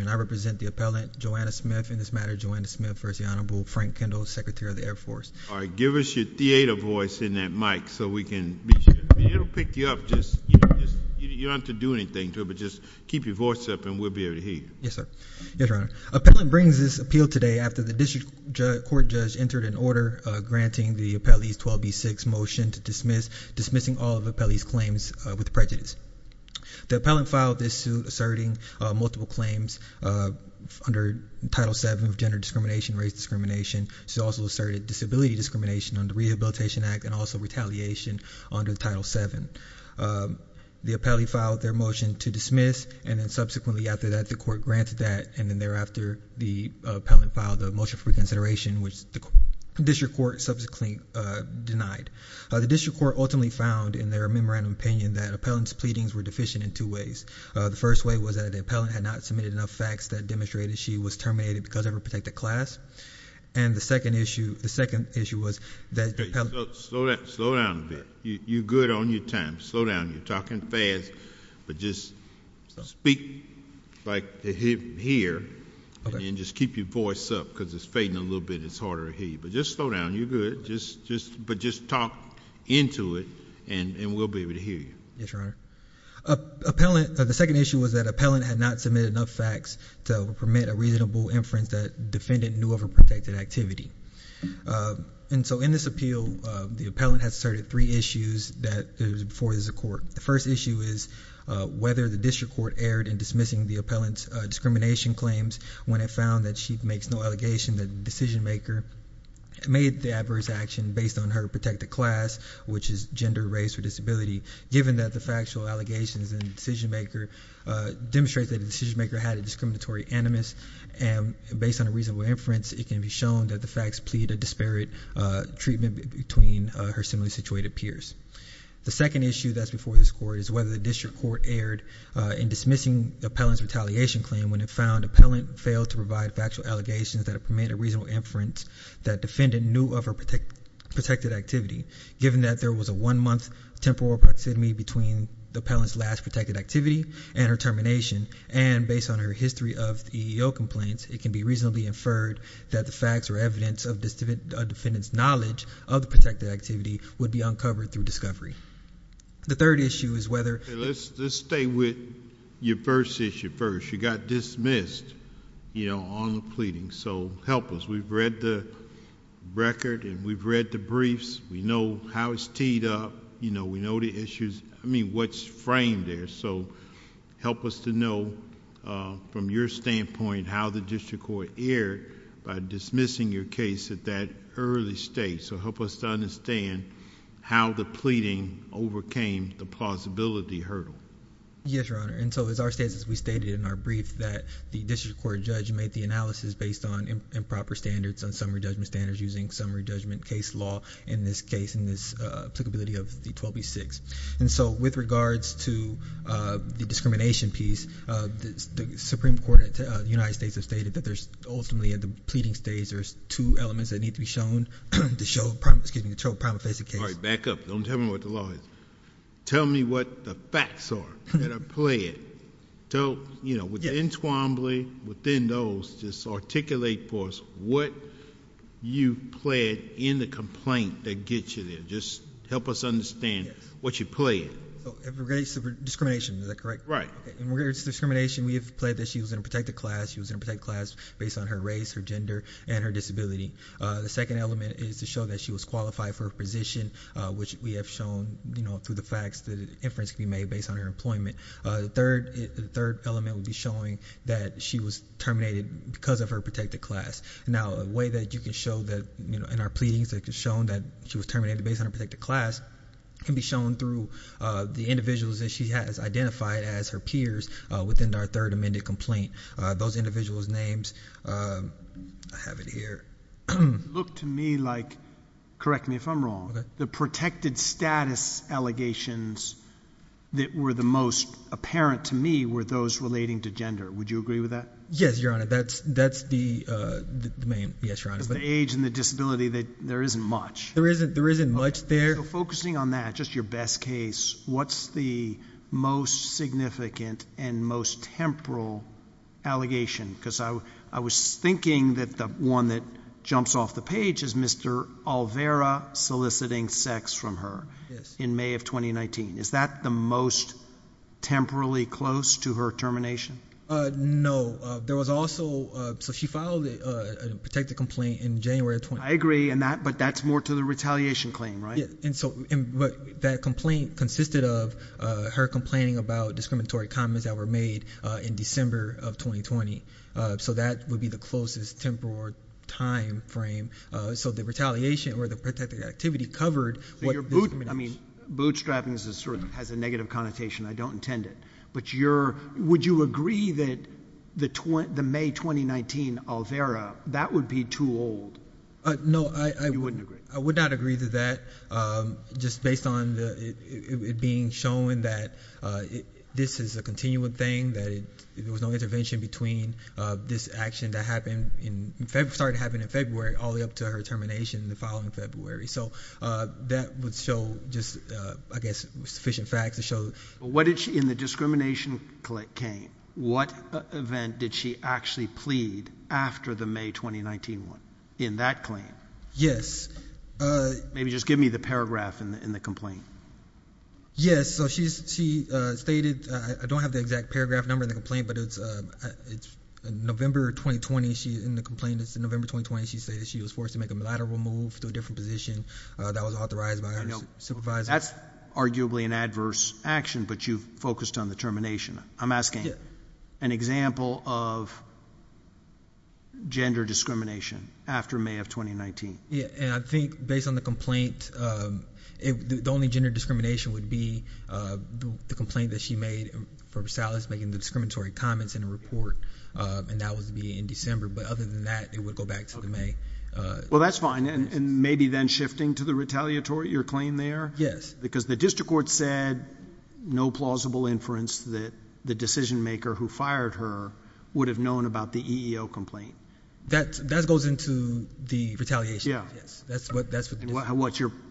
and I represent the appellant Joanna Smith. In this matter, Joanna Smith, first the Honorable Frank Kendall, Secretary of the Air Force. All right, give us your theater voice in that mic so we can pick you up. You don't have to do anything to it, but just keep your voice up and we'll be able to hear. Yes, sir. Yes, Your Honor. Appellant brings this appeal today after the district court judge entered an order granting the appellee's 12B6 motion to dismiss, dismissing all of the appellee's claims with prejudice. The appellant filed this suit asserting multiple claims under Title VII of gender discrimination, race discrimination. She also asserted disability discrimination under Rehabilitation Act and also retaliation under Title VII. The appellee filed their motion to dismiss, and then subsequently after that, the court granted that, and then thereafter, the appellant filed the motion for reconsideration, which the district court subsequently denied. The district court ultimately found in their memorandum opinion that appellant's pleadings were deficient in two ways. The first way was that the appellant had not submitted enough facts that demonstrated she was terminated because of her protected class. And the second issue, the second issue was that the appellant... Slow down a bit. You're good on your time. Slow down. You're talking fast, but just speak like you hear, and then just keep your voice up because it's fading a little bit. It's harder to hear you, but just slow down. You're good, but just talk into it, and we'll be able to hear you. Yes, Your Honor. Appellant, the second issue was that appellant had not submitted enough facts to permit a reasonable inference that defendant knew of her protected activity. And so, in this appeal, the appellant has started three issues that there was before this court. The first issue is whether the district court erred in dismissing the appellant's discrimination claims when it found that she makes no allegation that the decision-maker made the adverse action based on her protected class, which is gender, race, or disability, given that the factual allegations in the decision-maker demonstrate that the decision-maker had a discriminatory animus, and based on a reasonable inference, it can be shown that the facts plead a disparate treatment between her similarly situated peers. The second issue that's before this court is whether the district court erred in dismissing the appellant's retaliation claim when it found the appellant failed to provide factual allegations that it permitted a reasonable inference that defendant knew of her protected activity, given that there was a one-month temporal proximity between the appellant's last protected activity and her termination, and based on her history of EEO complaints, it can be reasonably inferred that the facts or evidence of a defendant's knowledge of the protected activity would be uncovered through discovery. The third issue is whether— Let's stay with your first issue first. You got dismissed on the pleading, so help us. We've read the record, and we've read the briefs. We know how it's teed up. We know the issues—I mean, what's framed there, so help us to know, from your standpoint, how the district court erred by dismissing your case at that early stage, so help us to understand how the pleading overcame the plausibility hurdle. Yes, Your Honor, and so as our status, we stated in our brief that the district court judge made the analysis based on improper standards, on summary judgment standards using summary judgment case law in this case, in this applicability of the 12B6, and so with regards to the discrimination piece, the Supreme Court of the United States has stated that there's ultimately, at the pleading stage, there's two elements that need to be shown to show—excuse me—to show a prima facie case. All right, back up. Don't tell me what the law is. Tell me what the facts are that are So, you know, within Twombly, within those, just articulate for us what you pled in the complaint that gets you there. Just help us understand what you pled. So, in regards to discrimination, is that correct? Right. In regards to discrimination, we have pled that she was in a protected class. She was in a protected class based on her race, her gender, and her disability. The second element is to show that she was qualified for a position, which we have shown, you know, through the facts that inference can be made based on her employment. The third element would be showing that she was terminated because of her protected class. Now, a way that you can show that, you know, in our pleadings, it can be shown that she was terminated based on her protected class can be shown through the individuals that she has identified as her peers within our third amended complaint. Those individuals' names, I have it here. Look to me like, correct me if I'm wrong, the protected status allegations that were the most apparent to me were those relating to gender. Would you agree with that? Yes, Your Honor. That's the main, yes, Your Honor. Because the age and the disability, there isn't much. There isn't much there. So, focusing on that, just your best case, what's the most significant and most temporal allegation? Because I was thinking that the one that jumps off the page is Mr. Alvera soliciting sex from her in May of 2019. Is that the most temporally close to her termination? No, there was also, so she filed a protected complaint in January of 2019. I agree, but that's more to the retaliation claim, right? Yes, but that complaint consisted of her complaining about discriminatory comments that were made in December of 2020. So, that would be the closest temporal time frame. So, the retaliation or the protected activity covered what the discrimination was. I mean, bootstrapping sort of has a negative connotation. I don't intend it. But would you agree that the May 2019 Alvera, that would be too old? No, I would not agree to that. Just based on it being shown that this is a continuing thing, that there was no intervention between this action that started happening in February all the way up to her termination the following February. So, that would show just, I guess, sufficient facts to show. What did she, in the discrimination claim, what event did she actually plead after the May 2019 one in that claim? Yes. Maybe just give me the paragraph in the complaint. Yes. So, she stated, I don't have the exact paragraph number in the complaint, but it's November 2020. In the complaint, it's November 2020. She stated she was forced to make a military move to a different position that was authorized by her supervisor. That's arguably an adverse action, but you've focused on the termination. I'm asking an example of gender discrimination after May of 2019. And I think based on the complaint, the only gender discrimination would be the complaint that she made for Salas making the discriminatory comments in a report, and that would be in December. But other than that, it would go back to the May. Well, that's fine. And maybe then shifting to the retaliatory, your claim there? Yes. Because the district court said no plausible inference that the decision maker who fired her would have known about the EEO complaint. That goes into the retaliation. Yes. That's what the district court said.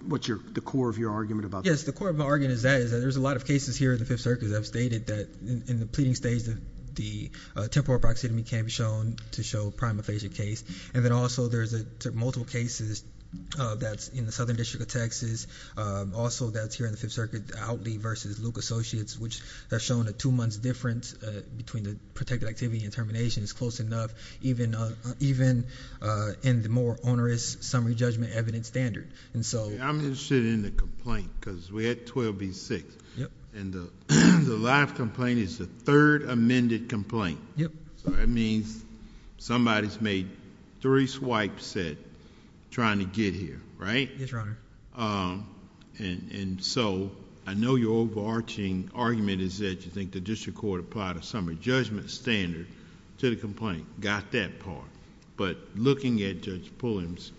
What's the core of your argument about that? Yes. The core of my argument is that there's a lot of cases here in the Fifth Circuit that have stated that in the pleading stage, the temporal proxitomy can be shown to show a prima facie case. And then also there's multiple cases that's in the Southern District of Texas. Also, that's here in the Fifth Circuit, Outley versus Luke Associates, which have shown a two-month difference between the protected activity and termination is close enough even in the more onerous summary judgment evidence standard. I'm interested in the complaint because we had 12 v. 6. And the last complaint is the third amended complaint. So that means somebody's made three swipes trying to get here, right? Yes, Your Honor. And so I know your overarching argument is that you think the district court applied a summary judgment standard to the complaint, got that part. But looking at Judge Pulliam's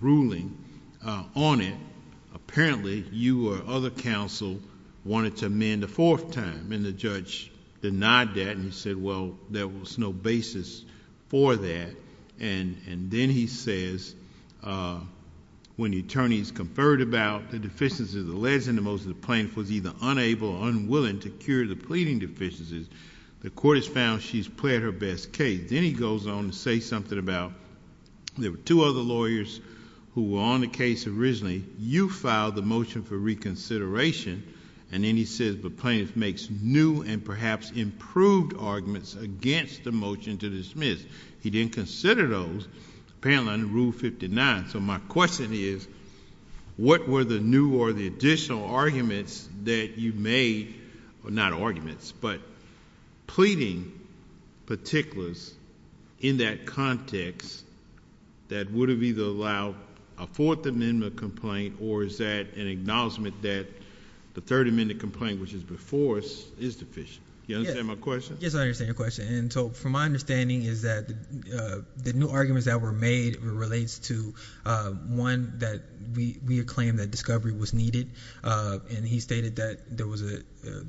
ruling on it, apparently you or other counsel wanted to amend a fourth time. And the judge denied that and he said, well, there was no basis for that. And then he says, when the attorneys conferred about the deficiencies, the less and the most of the plaintiff was either unable or unwilling to cure the pleading deficiencies, the court has found she's played her best case. Then he goes on to say something about there were two other lawyers who were on the case originally. You filed the motion for reconsideration. And then he says, the plaintiff makes new and perhaps improved arguments against the motion to dismiss. He didn't consider those, apparently under Rule 59. So my question is, what were the new or the that you made, not arguments, but pleading particulars in that context that would have either allowed a Fourth Amendment complaint or is that an acknowledgment that the Third Amendment complaint, which is before us, is deficient? Do you understand my question? Yes, I understand your question. And so from my understanding is that the new arguments that were made relates to one, that we acclaimed that discovery was needed. And he stated that there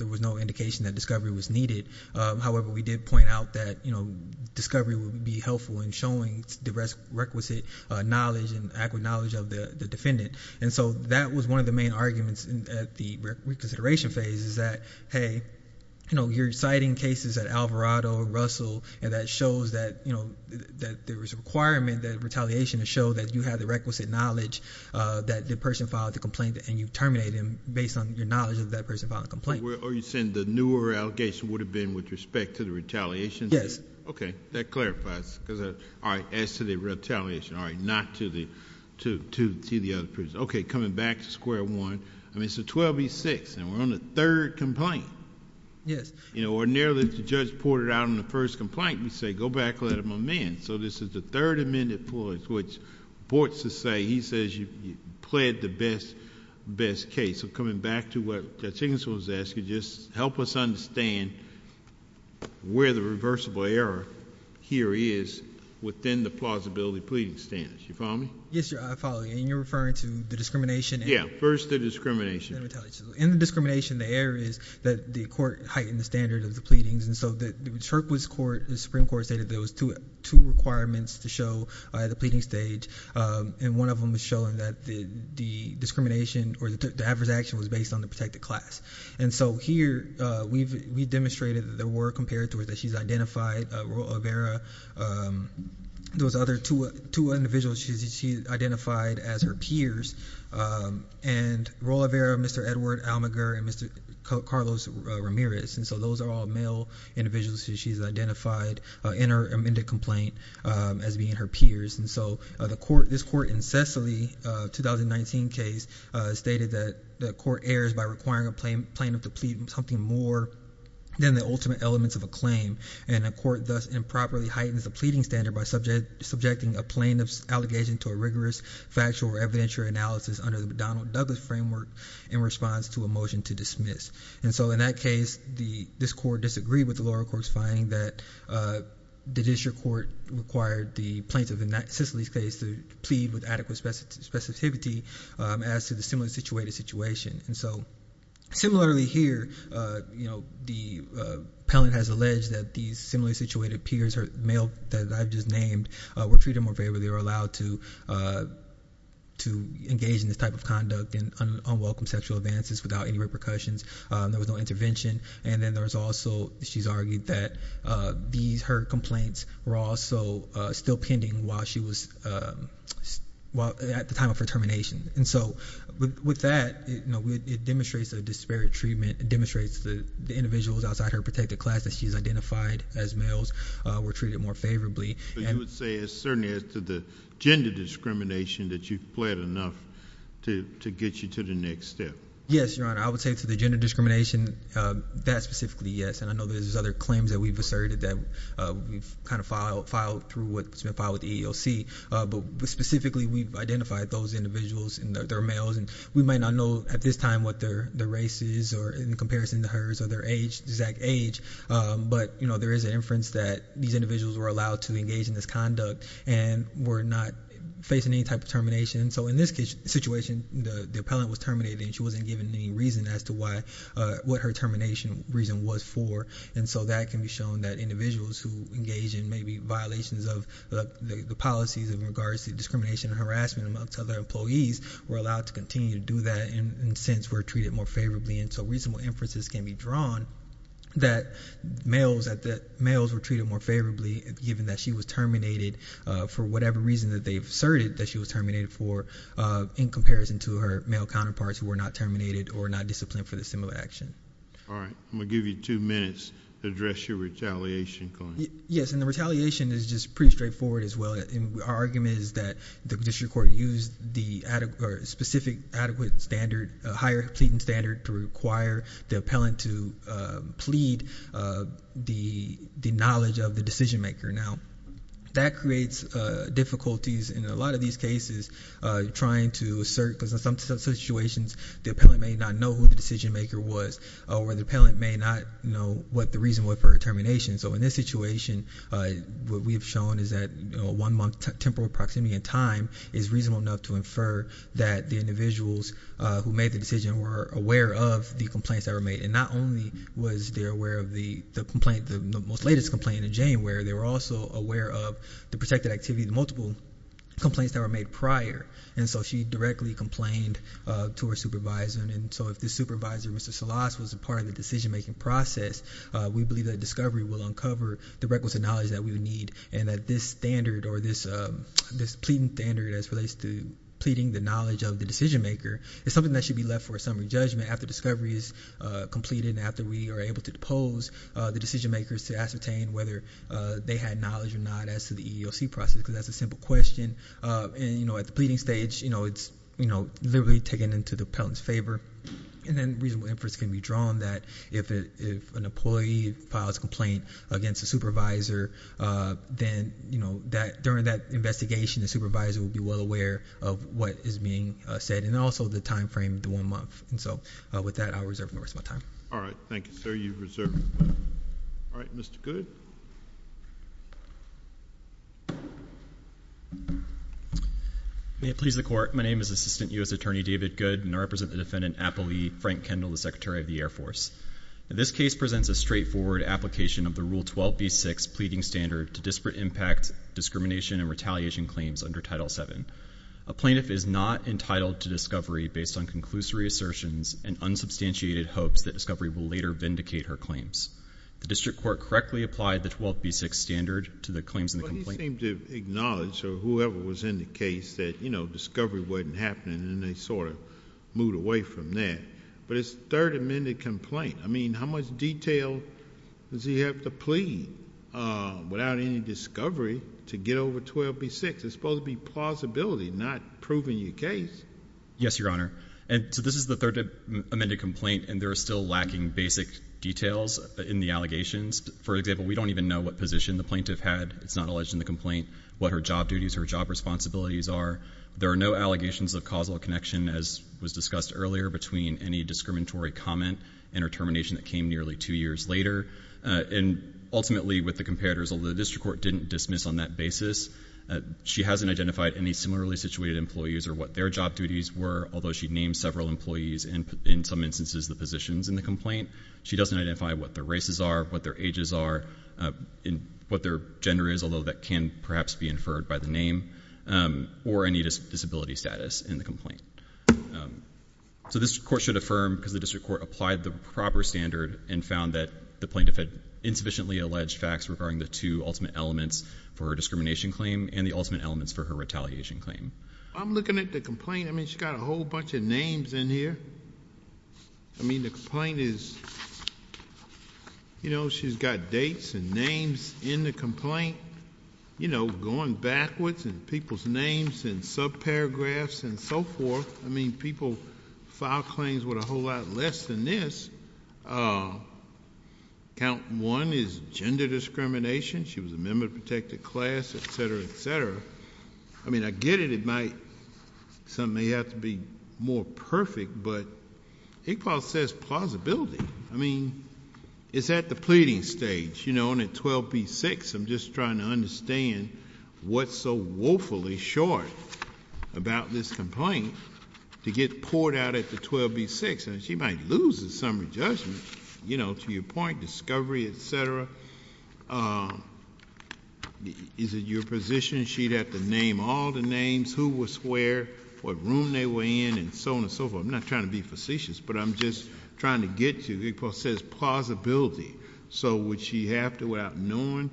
was no indication that discovery was needed. However, we did point out that discovery would be helpful in showing the requisite knowledge and accurate knowledge of the defendant. And so that was one of the main arguments at the reconsideration phase is that, hey, you're citing cases at Alvarado, Russell, and that shows that, you know, that there was a requirement that retaliation to show that you had the requisite knowledge that the person filed the complaint and you terminate him based on your knowledge of that person filed the complaint. Are you saying the newer allegation would have been with respect to the retaliation? Yes. Okay, that clarifies because, all right, as to the retaliation, all right, not to the other person. Okay, coming back to square one, I mean, it's a 12 v. 6 and we're on the third complaint. Yes. You know, or nearly the judge reported out on the first complaint, we say, go back, let him amend. So this is the third amendment point which reports to say, he says you pled the best case. So coming back to what Jackson was asking, just help us understand where the reversible error here is within the plausibility pleading standards. You follow me? Yes, sir, I follow you. And you're referring to the discrimination? Yeah, first the discrimination. In the discrimination, the error is that the court heightened the standard of the pleadings. And so the Supreme Court stated there was two requirements to show at the pleading stage. And one of them was showing that the discrimination or the adverse action was based on the protected class. And so here we've demonstrated that there were comparators that she's identified, Roa Vera, those other two individuals she identified as her peers, and Roa Vera, Mr. Edward Almaguer, and Mr. Carlos Ramirez. And so those are all male individuals she's identified in her amended complaint as being her peers. And so this court in Cicely, 2019 case, stated that the court errs by requiring a plaintiff to plead something more than the ultimate elements of a claim. And a court thus improperly heightens the pleading standard by subjecting a plaintiff's allegation to a rigorous factual or evidentiary analysis under the McDonnell-Douglas framework in response to a motion to dismiss. And so in that case, this court disagreed with the lower court's finding that the district court required the plaintiff in that Cicely's case to plead with adequate specificity as to the similarly situated situation. And so similarly here, the appellant has alleged that these similarly situated peers male that I've just named were treated more favorably or allowed to engage in this type of conduct and unwelcome sexual advances without any repercussions. There was no intervention. And then there's also, she's argued that these her complaints were also still pending while she was at the time of her termination. And so with that, it demonstrates a disparate treatment, it demonstrates the individuals outside her protected class that she's identified as males were treated more favorably. But you would say it's certainly as to the gender discrimination that you've pled enough to get you to the next step. Yes, your honor. I would say to the gender discrimination that specifically, yes. And I know there's other claims that we've asserted that we've kind of filed through what's been filed with the EEOC. But specifically, we've identified those individuals and their males. And we might not know at this time what their race is or in comparison to hers or their exact age. But there is an inference that these individuals were allowed to engage in this conduct and were not facing any type of termination. So in this case situation, the appellant was terminated and she wasn't given any reason as to what her termination reason was for. And so that can be shown that individuals who engage in maybe violations of the policies in regards to discrimination and harassment amongst other employees were allowed to continue to do that. And since we're treated more favorably and so reasonable inferences can be drawn, that males were treated more favorably given that she was terminated for whatever reason that they've asserted that she was terminated for in comparison to her male counterparts who were not terminated or not disciplined for the similar action. All right. I'm going to give you two minutes to address your retaliation claim. Yes. And the retaliation is just pretty straightforward as well. Our argument is that district court used the specific adequate standard, higher pleading standard to require the appellant to plead the knowledge of the decision maker. Now that creates difficulties in a lot of these cases trying to assert because in some situations the appellant may not know who the decision maker was or the appellant may not know what the reason was for her termination. So in this situation, what we've shown is that one month temporal proximity and time is reasonable enough to infer that the individuals who made the decision were aware of the complaints that were made. And not only was they aware of the complaint, the most latest complaint in Jane, where they were also aware of the protected activity, the multiple complaints that were made prior. And so she directly complained to her supervisor. And so if the supervisor, Mr. We believe that discovery will uncover the records of knowledge that we would need and that this standard or this pleading standard as relates to pleading the knowledge of the decision maker is something that should be left for a summary judgment after discovery is completed and after we are able to depose the decision makers to ascertain whether they had knowledge or not as to the EEOC process because that's a simple question. And at the pleading stage, it's literally taken into the appellant's favor. And then reasonable inference can be drawn that if an employee files a complaint against a supervisor, then during that investigation, the supervisor will be well aware of what is being said and also the time frame, the one month. And so with that, I'll reserve the rest of my time. All right. Thank you, sir. You've reserved. All right, Mr. Good. May it please the court. My name is Assistant U.S. Attorney David Good and I represent the defendant, Appellee Frank Kendall, the Secretary of the Air Force. This case presents a straightforward application of the Rule 12b-6 Pleading Standard to disparate impact, discrimination, and retaliation claims under Title VII. A plaintiff is not entitled to discovery based on conclusory assertions and unsubstantiated hopes that discovery will later vindicate her claims. The district court correctly applies the rule to the plaintiff. The plaintiff is standard to the claims in the complaint. But you seem to acknowledge, or whoever was in the case, that, you know, discovery wasn't happening and they sort of moved away from that. But it's a third amended complaint. I mean, how much detail does he have to plead without any discovery to get over 12b-6? It's supposed to be plausibility, not proving your case. Yes, Your Honor. And so this is the third amended complaint and there are still lacking basic details in the allegations. For example, we don't even know what position the plaintiff had. It's not alleged in the complaint what her job duties, her job responsibilities are. There are no allegations of causal connection, as was discussed earlier, between any discriminatory comment and her termination that came nearly two years later. And ultimately, with the comparators, although the district court didn't dismiss on that basis, she hasn't identified any similarly situated employees or what their job duties were, although she named several employees and, in some instances, the positions in the complaint. She doesn't identify what their races are, what their ages are, what their gender is, although that can perhaps be inferred by the name, or any disability status in the complaint. So this court should affirm, because the district court applied the proper standard and found that the plaintiff had insufficiently alleged facts regarding the two ultimate elements for her discrimination claim and the ultimate elements for her retaliation claim. I'm looking at the complaint. I mean, she's got a whole bunch of in here. I mean, the complaint is, you know, she's got dates and names in the complaint, you know, going backwards in people's names and subparagraphs and so forth. I mean, people file claims with a whole lot less than this. Count one is gender discrimination. She was a member of a protected class, et cetera, et cetera. I mean, I get it. It might have to be more perfect, but Iqbal says plausibility. I mean, it's at the pleading stage, you know, and at 12b-6, I'm just trying to understand what's so woefully short about this complaint to get poured out at the 12b-6. I mean, she might lose the summary judgment, you know, to your point, discovery, et cetera. Is it your position she'd have to name all the names, who was where, what room they were in, and so on and so forth? I'm not trying to be facetious, but I'm just trying to get to it. Iqbal says plausibility. So would she have to, without knowing,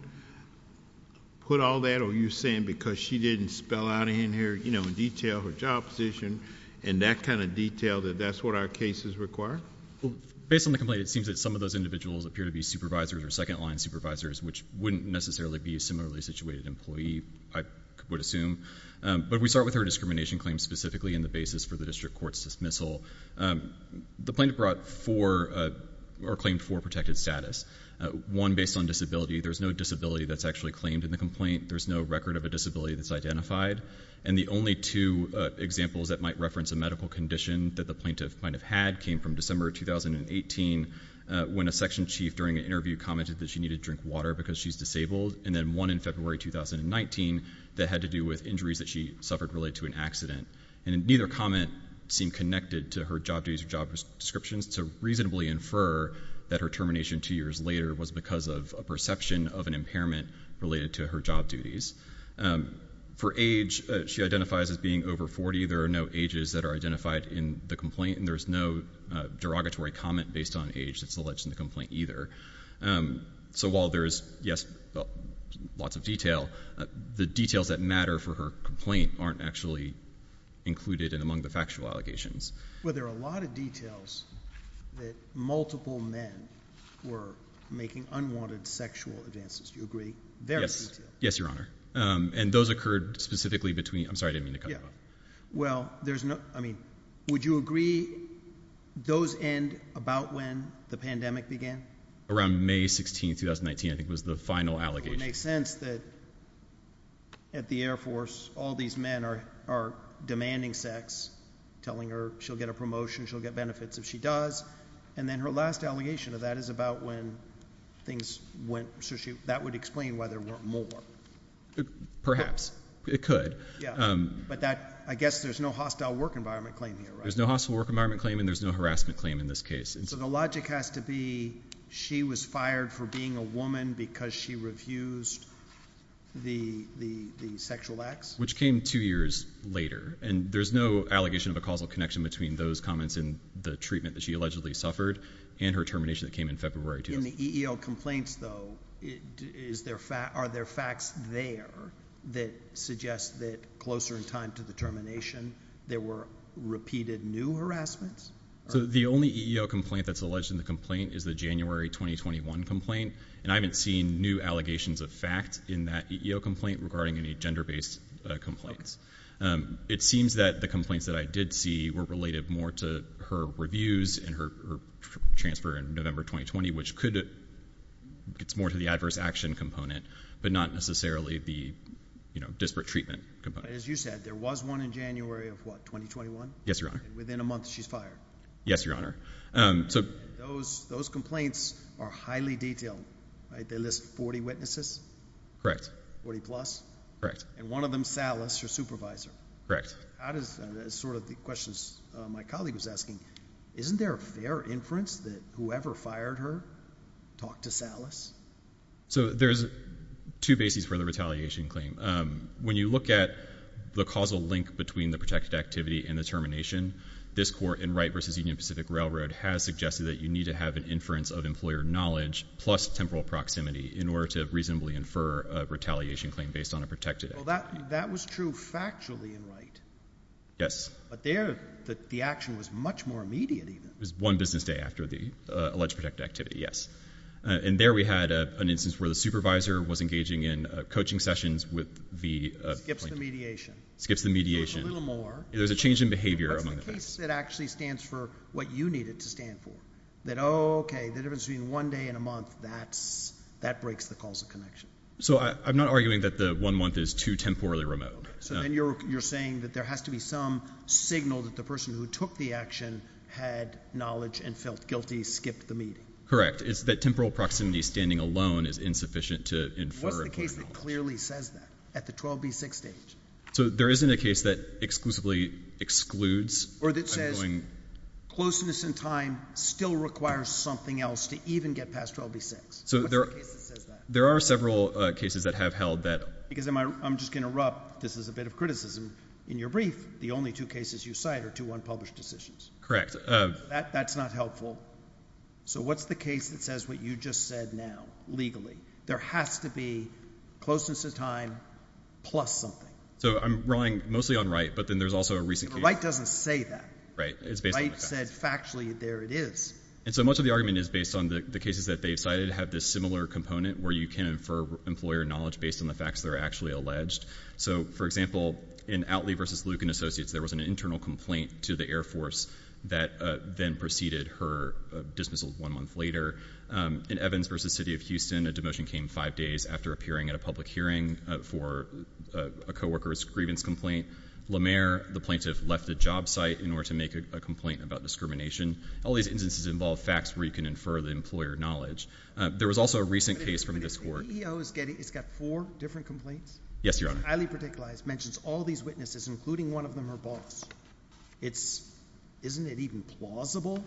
put all that, or are you saying because she didn't spell out in here, you know, in detail her job position and that kind of detail, that that's what our cases require? Well, based on the complaint, it seems that some of those individuals appear to be supervisors or second-line supervisors, which wouldn't necessarily be a similarly situated employee, I would assume. But we start with her discrimination claims specifically in the basis for the district court's dismissal. The plaintiff brought four, or claimed four, protected status. One based on disability. There's no disability that's actually claimed in the complaint. There's no record of a disability that's identified. And the only two examples that might reference a medical condition that the plaintiff might have had came from December 2018, when a section chief during an interview commented that she needed to drink water because she's disabled, and then one in suffered related to an accident. And neither comment seemed connected to her job duties or job descriptions to reasonably infer that her termination two years later was because of a perception of an impairment related to her job duties. For age, she identifies as being over 40. There are no ages that are identified in the complaint, and there's no derogatory comment based on age that's alleged in the complaint either. So while there is, yes, lots of detail, the details that matter for her complaint aren't actually included in among the factual allegations. Well, there are a lot of details that multiple men were making unwanted sexual advances. Do you agree? Yes. Yes, Your Honor. And those occurred specifically between, I'm sorry, I didn't mean to cut you off. Well, there's no, I mean, would you agree those end about when the pandemic began? Around May 16, 2019, I think was the final allegation. It makes sense that at the Air Force, all these men are demanding sex, telling her she'll get a promotion, she'll get benefits if she does. And then her last allegation of that is about when things went, so she, that would explain why there weren't more. Perhaps. It could. Yeah. But that, I guess there's no hostile work environment claim here, right? There's no hostile work environment claim, and there's no harassment claim in this case. So the logic has to be she was fired for being a woman because she refused the sexual acts? Which came two years later. And there's no allegation of a causal connection between those comments and the treatment that she allegedly suffered and her termination that came in February 2000. In the EEO complaints though, are there facts there that suggest that closer in time to the termination, there were repeated new harassments? So the only EEO complaint that's alleged in the complaint is the January 2021 complaint. And I haven't seen new allegations of facts in that EEO complaint regarding any gender-based complaints. It seems that the complaints that I did see were related more to her reviews and her transfer in November 2020, which could, it's more to the adverse action component, but not necessarily the disparate treatment component. As you said, there was one in January of what, 2021? Yes, Your Honor. And within a month she's fired? Yes, Your Honor. So those complaints are highly detailed, right? They list 40 witnesses? Correct. 40 plus? Correct. And one of them's Salas, your supervisor? Correct. That is sort of the questions my colleague was asking. Isn't there a fair inference that whoever fired her talked to Salas? So there's two bases for the retaliation claim. When you look at the causal link between the protected activity and the termination, this court in Wright v. Union Pacific Railroad has suggested that you need to have an inference of employer knowledge plus temporal proximity in order to reasonably infer a retaliation claim based on a protected act. Well, that was true factually in Wright. Yes. But there the action was much more immediate even. It was one business day after the alleged protected activity, yes. And there we had an instance where the supervisor was engaging in coaching sessions with the plaintiff. Skips the mediation. Skips the mediation. A little more. There's a change in behavior among the plaintiffs. That's the case that actually stands for what you needed to stand for. That, oh, okay, the difference between one day and a month, that breaks the causal connection. So I'm not arguing that the one month is too temporally remote. So then you're saying that there has to be some signal that the person who took the action had knowledge and felt guilty, skipped the meeting. Correct. It's that temporal proximity standing alone is insufficient to infer. What's the case that clearly says that at the 12B6 stage? So there isn't a case that exclusively excludes. Or that says closeness in time still requires something else to even get past 12B6. So there are several cases that have held that. Because I'm just going to erupt. This is a bit of criticism. In your brief, the only two cases you cite are two unpublished decisions. Correct. That's not helpful. So what's the case that says what you just said now legally? There has to be closeness of time plus something. So I'm relying mostly on Wright, but then there's also a recent case. Wright doesn't say that. Right. It's based on the facts. Wright said factually there it is. And so much of the argument is based on the cases that they've cited have this similar component where you can infer employer knowledge based on the facts that are actually alleged. So, for example, in Outley v. Lucan Associates, there was an internal complaint to the Air Force that then preceded her dismissal one month later. In Evans v. City of Houston, a demotion came five days after appearing at a public hearing for a co-worker's grievance complaint. Lemaire, the plaintiff, left the job site in order to make a complaint about discrimination. All these instances involve facts where you can infer the employer knowledge. There was also a recent case from this EEO. It's got four different complaints? Yes, Your Honor. It's highly particularized. It mentions all these witnesses, including one of them, her boss. Isn't it even plausible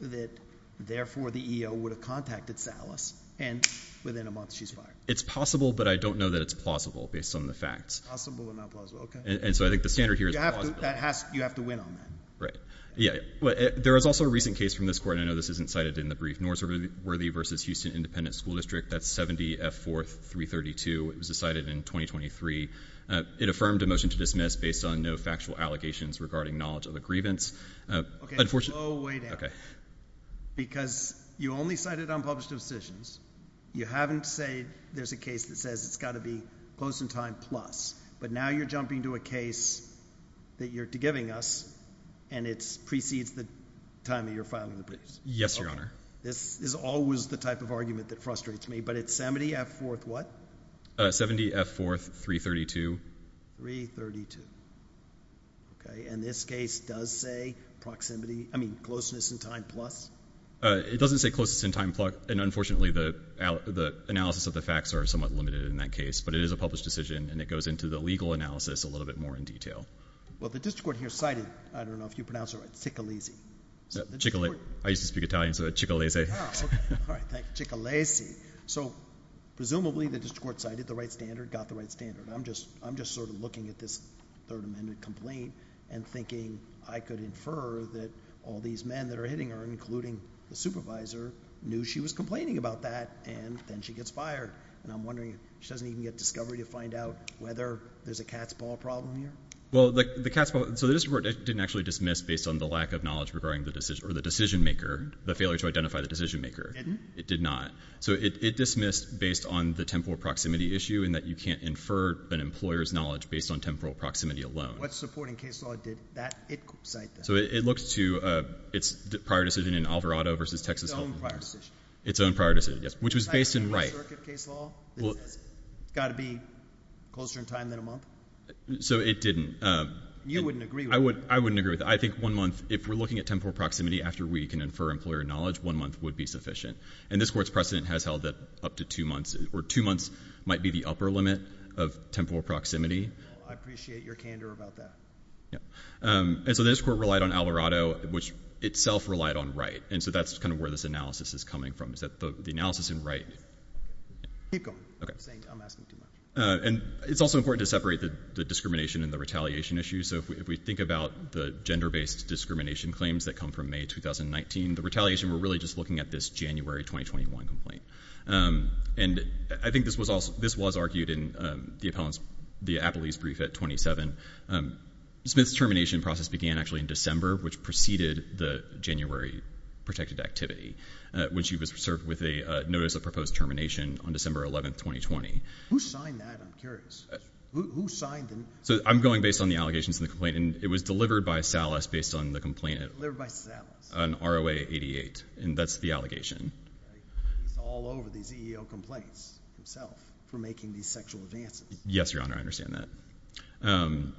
that, therefore, the EEO would have contacted Salas, and within a month she's fired? It's possible, but I don't know that it's plausible based on the facts. Possible or not plausible. Okay. And so I think the standard here is plausible. You have to win on that. Right. Yeah. There was also a recent case from this court, and I know this isn't cited in the brief, Northworthy v. Houston Independent School District. That's 70F4332. It was decided in 2023. It affirmed a motion to dismiss based on no factual allegations regarding knowledge of a grievance. Okay. Slow way down. Okay. Because you only cited unpublished decisions. You haven't said there's a case that says it's got to be close in time plus. But now you're jumping to a case that you're giving us, and it precedes the time that you're filing the briefs. Yes, Your Honor. This is always the type of argument that but it's 70F4 what? 70F4332. 332. Okay. And this case does say proximity, I mean closeness in time plus? It doesn't say closeness in time plus, and unfortunately the analysis of the facts are somewhat limited in that case, but it is a published decision, and it goes into the legal analysis a little bit more in detail. Well, the district court here cited, I don't know if you speak Italian, so it's cicalese. Cicalese. So presumably the district court cited the right standard, got the right standard. I'm just sort of looking at this third amendment complaint and thinking I could infer that all these men that are hitting her, including the supervisor, knew she was complaining about that, and then she gets fired. And I'm wondering, she doesn't even get discovery to find out whether there's a cat's ball problem here? Well, the cat's ball, so the district court didn't actually dismiss based on the lack of the failure to identify the decision maker. It didn't? It did not. So it dismissed based on the temporal proximity issue in that you can't infer an employer's knowledge based on temporal proximity alone. What supporting case law did that, it cite that? So it looks to its prior decision in Alvarado versus Texas Health and Welfare. Its own prior decision. Its own prior decision, yes, which was based in Wright. It's got to be closer in time than a month? So it didn't. You wouldn't agree with that? I wouldn't agree with that. I think one month, if we're looking at temporal proximity after we can infer employer knowledge, one month would be sufficient. And this court's precedent has held that up to two months, or two months might be the upper limit of temporal proximity. I appreciate your candor about that. Yeah. And so this court relied on Alvarado, which itself relied on Wright. And so that's kind of where this analysis is coming from, is that the analysis in Wright. Keep going. I'm asking too much. And it's also important to separate the discrimination and the retaliation issue. If we think about the gender-based discrimination claims that come from May 2019, the retaliation, we're really just looking at this January 2021 complaint. And I think this was argued in the appellee's brief at 27. Smith's termination process began actually in December, which preceded the January protected activity, when she was served with a notice of proposed termination on December 11th, 2020. Who signed that? I'm curious. Who signed them? So I'm going based on the allegations in the complaint. And it was delivered by Salas based on the complaint. Delivered by Salas. On ROA 88. And that's the allegation. It's all over these EEO complaints themselves for making these sexual advances. Yes, Your Honor. I understand that.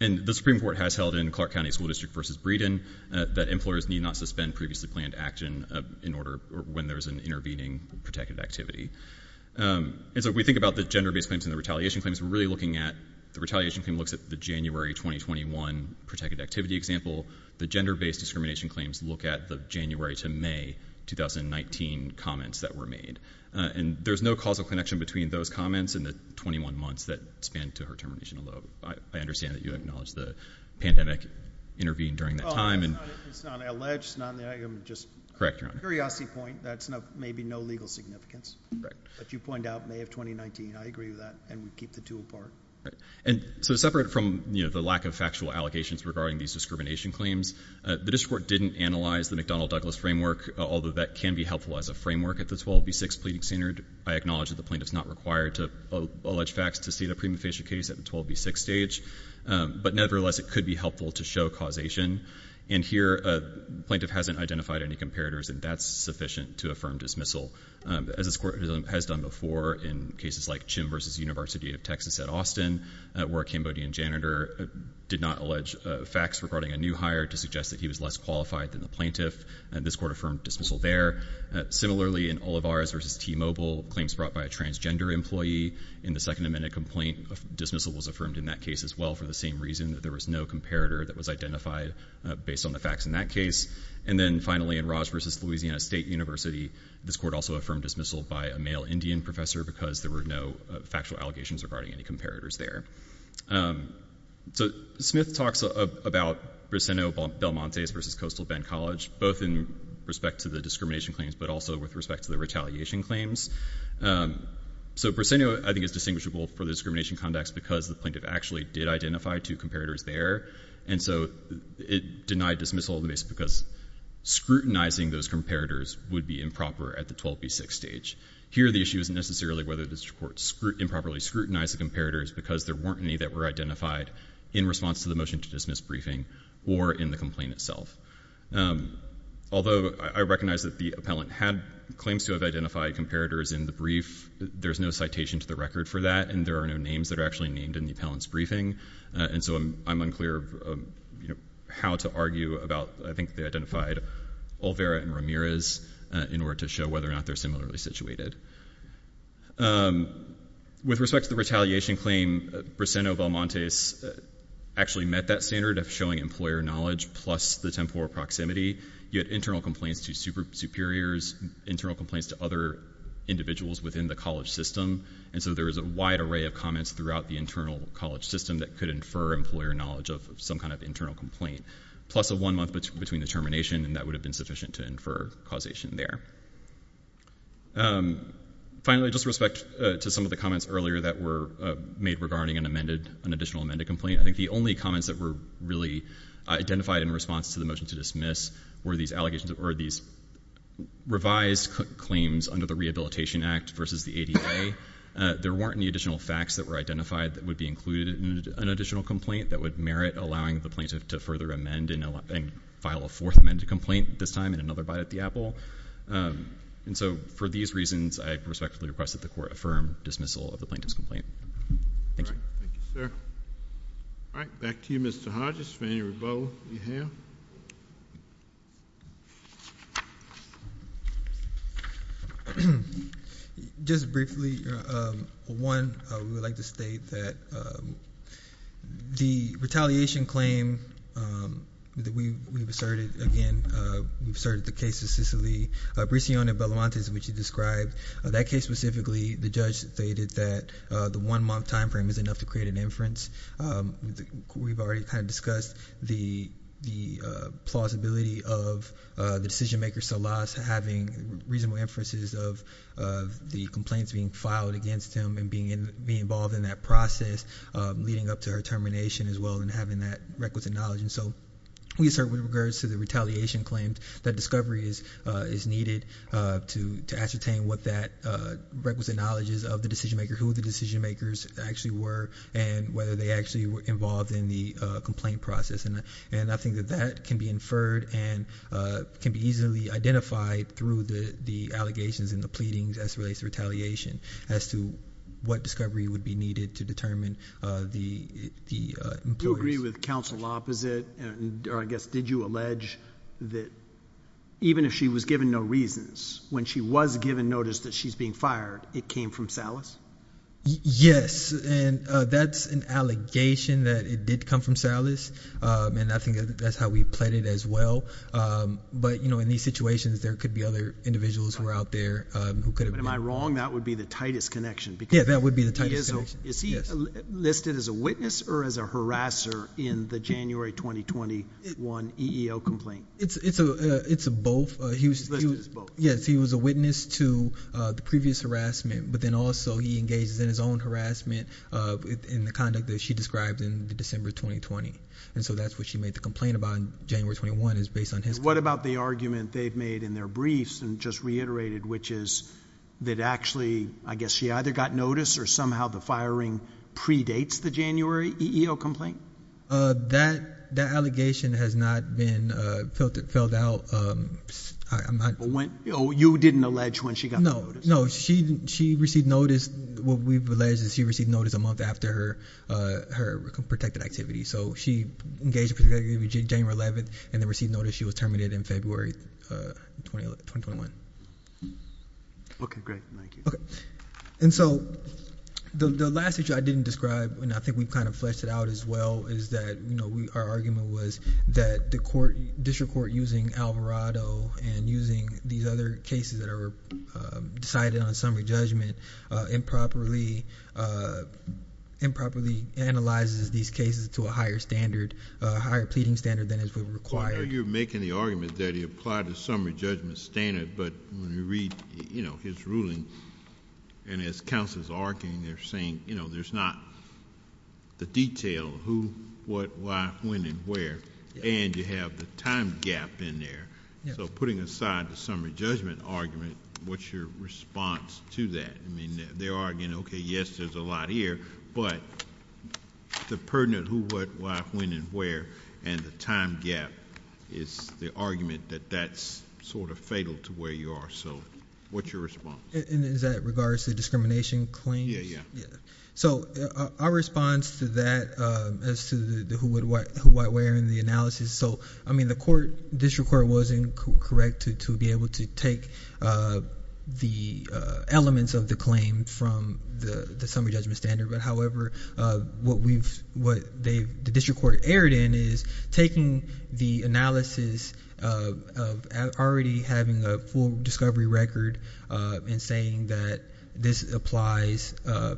And the Supreme Court has held in Clark County School District v. Breeden that employers need not suspend previously planned action when there's an intervening protected activity. And so if we think about the gender-based claims and the retaliation claims, we're really looking at the retaliation looks at the January 2021 protected activity example. The gender-based discrimination claims look at the January to May 2019 comments that were made. And there's no causal connection between those comments and the 21 months that span to her termination. Although I understand that you acknowledge the pandemic intervened during that time. It's not alleged. It's not just a curiosity point. That's maybe no legal significance. But you point out May of 2019. I agree with that. And we keep the two apart. Right. And so separate from, you know, the lack of factual allegations regarding these discrimination claims, the district court didn't analyze the McDonnell Douglas framework, although that can be helpful as a framework at the 12B6 pleading standard. I acknowledge that the plaintiff's not required to allege facts to see the prima facie case at the 12B6 stage. But nevertheless, it could be helpful to show causation. And here a plaintiff hasn't identified any comparators. And that's sufficient to affirm dismissal. As this court has done before in cases like Chim v. University of Texas at Austin, where a Cambodian janitor did not allege facts regarding a new hire to suggest that he was less qualified than the plaintiff. And this court affirmed dismissal there. Similarly, in Olivares v. T-Mobile, claims brought by a transgender employee in the Second Amendment complaint, dismissal was affirmed in that case as well for the same reason that there was no comparator that was identified based on the facts in that case. And then finally, in Raj v. Louisiana State University, this court also affirmed dismissal by a male Indian professor because there were no factual allegations regarding any comparators there. So Smith talks about Brisseno-Belmontes v. Coastal Bend College, both in respect to the discrimination claims, but also with respect to the retaliation claims. So Brisseno, I think, is distinguishable for the discrimination conducts because the plaintiff actually did identify two comparators there. And so it denied dismissal because scrutinizing those comparators would be improper at the 12B6 stage. Here, the issue isn't necessarily whether this court improperly scrutinized the comparators because there weren't any that were identified in response to the motion to dismiss briefing or in the complaint itself. Although I recognize that the appellant had claims to have identified comparators in the brief, there's no citation to the record for that, and there are no names that are actually named in the identified Olvera and Ramirez in order to show whether or not they're similarly situated. With respect to the retaliation claim, Brisseno-Belmontes actually met that standard of showing employer knowledge plus the temporal proximity. You had internal complaints to superiors, internal complaints to other individuals within the college system, and so there was a wide array of comments throughout the internal college system that could infer employer knowledge of some kind of internal complaint, plus a one-month between the termination, and that would have been sufficient to infer causation there. Finally, just with respect to some of the comments earlier that were made regarding an additional amended complaint, I think the only comments that were really identified in response to the motion to dismiss were these revised claims under the Rehabilitation Act versus the ADA. There weren't any additional facts that were identified that would be included in an additional complaint that would merit allowing the plaintiff to further amend and file a fourth amended complaint, this time in another bite at the apple, and so for these reasons, I respectfully request that the Court affirm dismissal of the plaintiff's complaint. Thank you, sir. All right, back to you, Mr. Hodges. Mr. Espinosa-Ramon, do you have a question? Just briefly, one, I would like to state that the retaliation claim that we've asserted again, we've asserted the case of Cicely Briceone-Balamantes, which you described, that case specifically, the judge stated that the one-month time frame is enough to create an inference. We've already kind of discussed the plausibility of the decision-maker, Salas, having reasonable inferences of the complaints being filed against him and being involved in that process, leading up to her termination as well, and having that requisite knowledge, and so we assert with regards to the retaliation claims that discovery is needed to ascertain what that requisite knowledge is of the decision-maker, who the decision-makers actually were, and whether they actually were involved in the complaint process, and I think that that can be inferred and can be easily identified through the allegations and the pleadings as it relates to retaliation as to what discovery would be needed to determine the importance. Do you agree with counsel opposite, or I guess, did you allege that even if she was given no reasons, when she was given notice that she's being fired, it came from Salas? Yes, and that's an allegation that it did come from Salas, and I think that's how we played it as well, but, you know, in these situations, there could be other individuals who are out there who could have been. Am I wrong? That would be the tightest connection. Yeah, that would be the tightest connection. Is he listed as a witness or as a harasser in the January 2021 EEO complaint? It's both. He's listed as both. Yes, he was a witness to the previous harassment, but then also he engages in his own harassment in the conduct that she described in December 2020, and so that's what she made the complaint about in January 21 is based on his complaint. What about the argument they've made in their briefs and just reiterated, which is that actually, I guess, she either got notice or somehow the firing predates the January EEO complaint? That allegation has not been filled out. You didn't allege when she got the notice? No, she received notice. What we've alleged is she received notice a month after her protected activity, so she engaged in January 11th and then received notice she was terminated in February 2021. Okay, great. Thank you. Okay, and so the last issue I didn't describe, and I think we kind of fleshed it out as well, our argument was that the district court using Alvarado and using these other cases that are decided on a summary judgment improperly analyzes these cases to a higher standard, a higher pleading standard than is required. You're making the argument that he applied the summary judgment standard, but when you read his ruling and as counsel is arguing, they're saying, you know, there's not the detail who, what, why, when, and where, and you have the time gap in there, so putting aside the summary judgment argument, what's your response to that? I mean, they're arguing, okay, yes, there's a lot here, but the pertinent who, what, why, when, and where, and the time gap is the argument that that's sort of fatal to where you are, so what's your response? And is that regards to discrimination claims? Yeah, yeah. Yeah, so our response to that as to the who, what, where, and the analysis, so, I mean, the court, district court wasn't correct to be able to take the elements of the claim from the summary judgment standard, but however, what we've, what they, the district court erred in is taking the analysis of already having a full discovery record and saying that this applies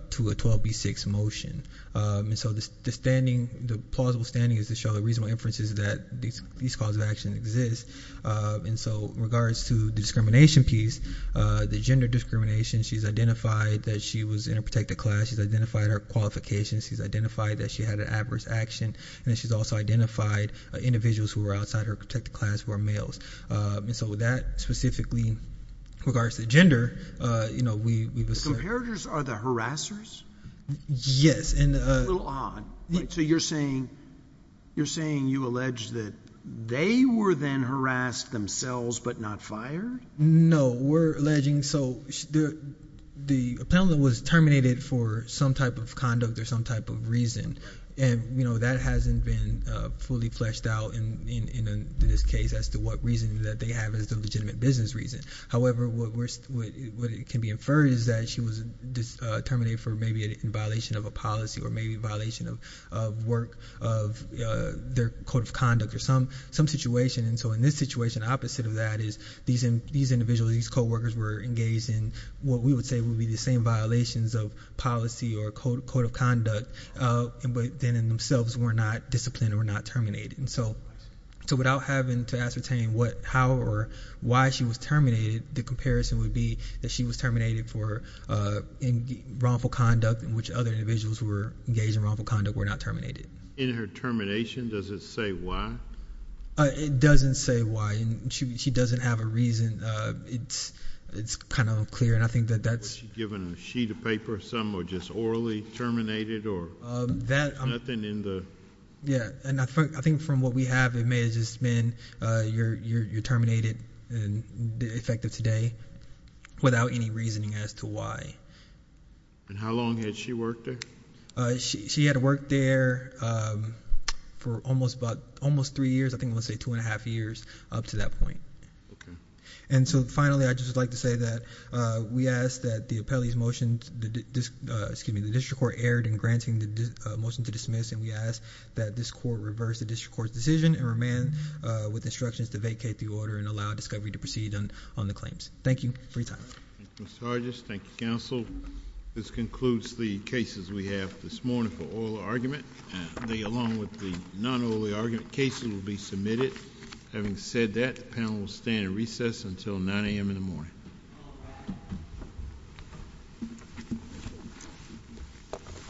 to a 12B6 motion, and so the standing, the plausible standing is to show the reasonable inferences that these calls of action exist, and so in regards to the discrimination piece, the gender discrimination, she's identified that she was in a protected class, she's identified her qualifications, she's identified that she had an adverse action, and she's also identified individuals who were outside her protected class who were males, and so with that, specifically regards to gender, you know, we, we've. The comparators are the harassers? Yes, and. A little odd. So you're saying, you're saying you allege that they were then harassed themselves, but not fired? No, we're alleging, so the, the appellant was terminated for some type of conduct or some type of reason, and you know, that hasn't been fully fleshed out in, in, in this case as to what reason that they have as the legitimate business reason. However, what we're, what can be inferred is that she was terminated for maybe a violation of a policy or maybe a violation of, of work, of their code of conduct or some, some situation, and so in this situation, opposite of that is these, these individuals, these coworkers were engaged in what we would say would be the same violations of policy or code, code of conduct, but then in themselves were not disciplined or not terminated, and so, so without having to ascertain what, how or why she was terminated, the comparison would be that she was terminated for wrongful conduct in which other individuals were engaged in wrongful conduct were not terminated. In her termination, does it say why? It doesn't say why, and she, she doesn't have a reason. It's, it's kind of clear, and I think that that's. Was she given a sheet of paper of some or just orally terminated or? That. Nothing in the. Yeah, and I think, I think from what we have, it may have just been, you're, you're, you're terminated and effective today without any reasoning as to why. And how long had she worked there? She had worked there for almost about, almost three years. I think we'll say two and a half years up to that point. And so, finally, I just would like to say that we ask that the appellee's motion, excuse me, the district court erred in granting the motion to dismiss, and we ask that this court reverse the district court's decision and remand with instructions to vacate the order and allow discovery to proceed on, on the claims. Thank you. Free time. Thank you, Mr. Hargis. Thank you, counsel. This concludes the cases we have this morning for oral argument. They, along with the non-oral argument cases will be submitted. Having said that, the panel will stand in recess until 9 a.m. in the morning.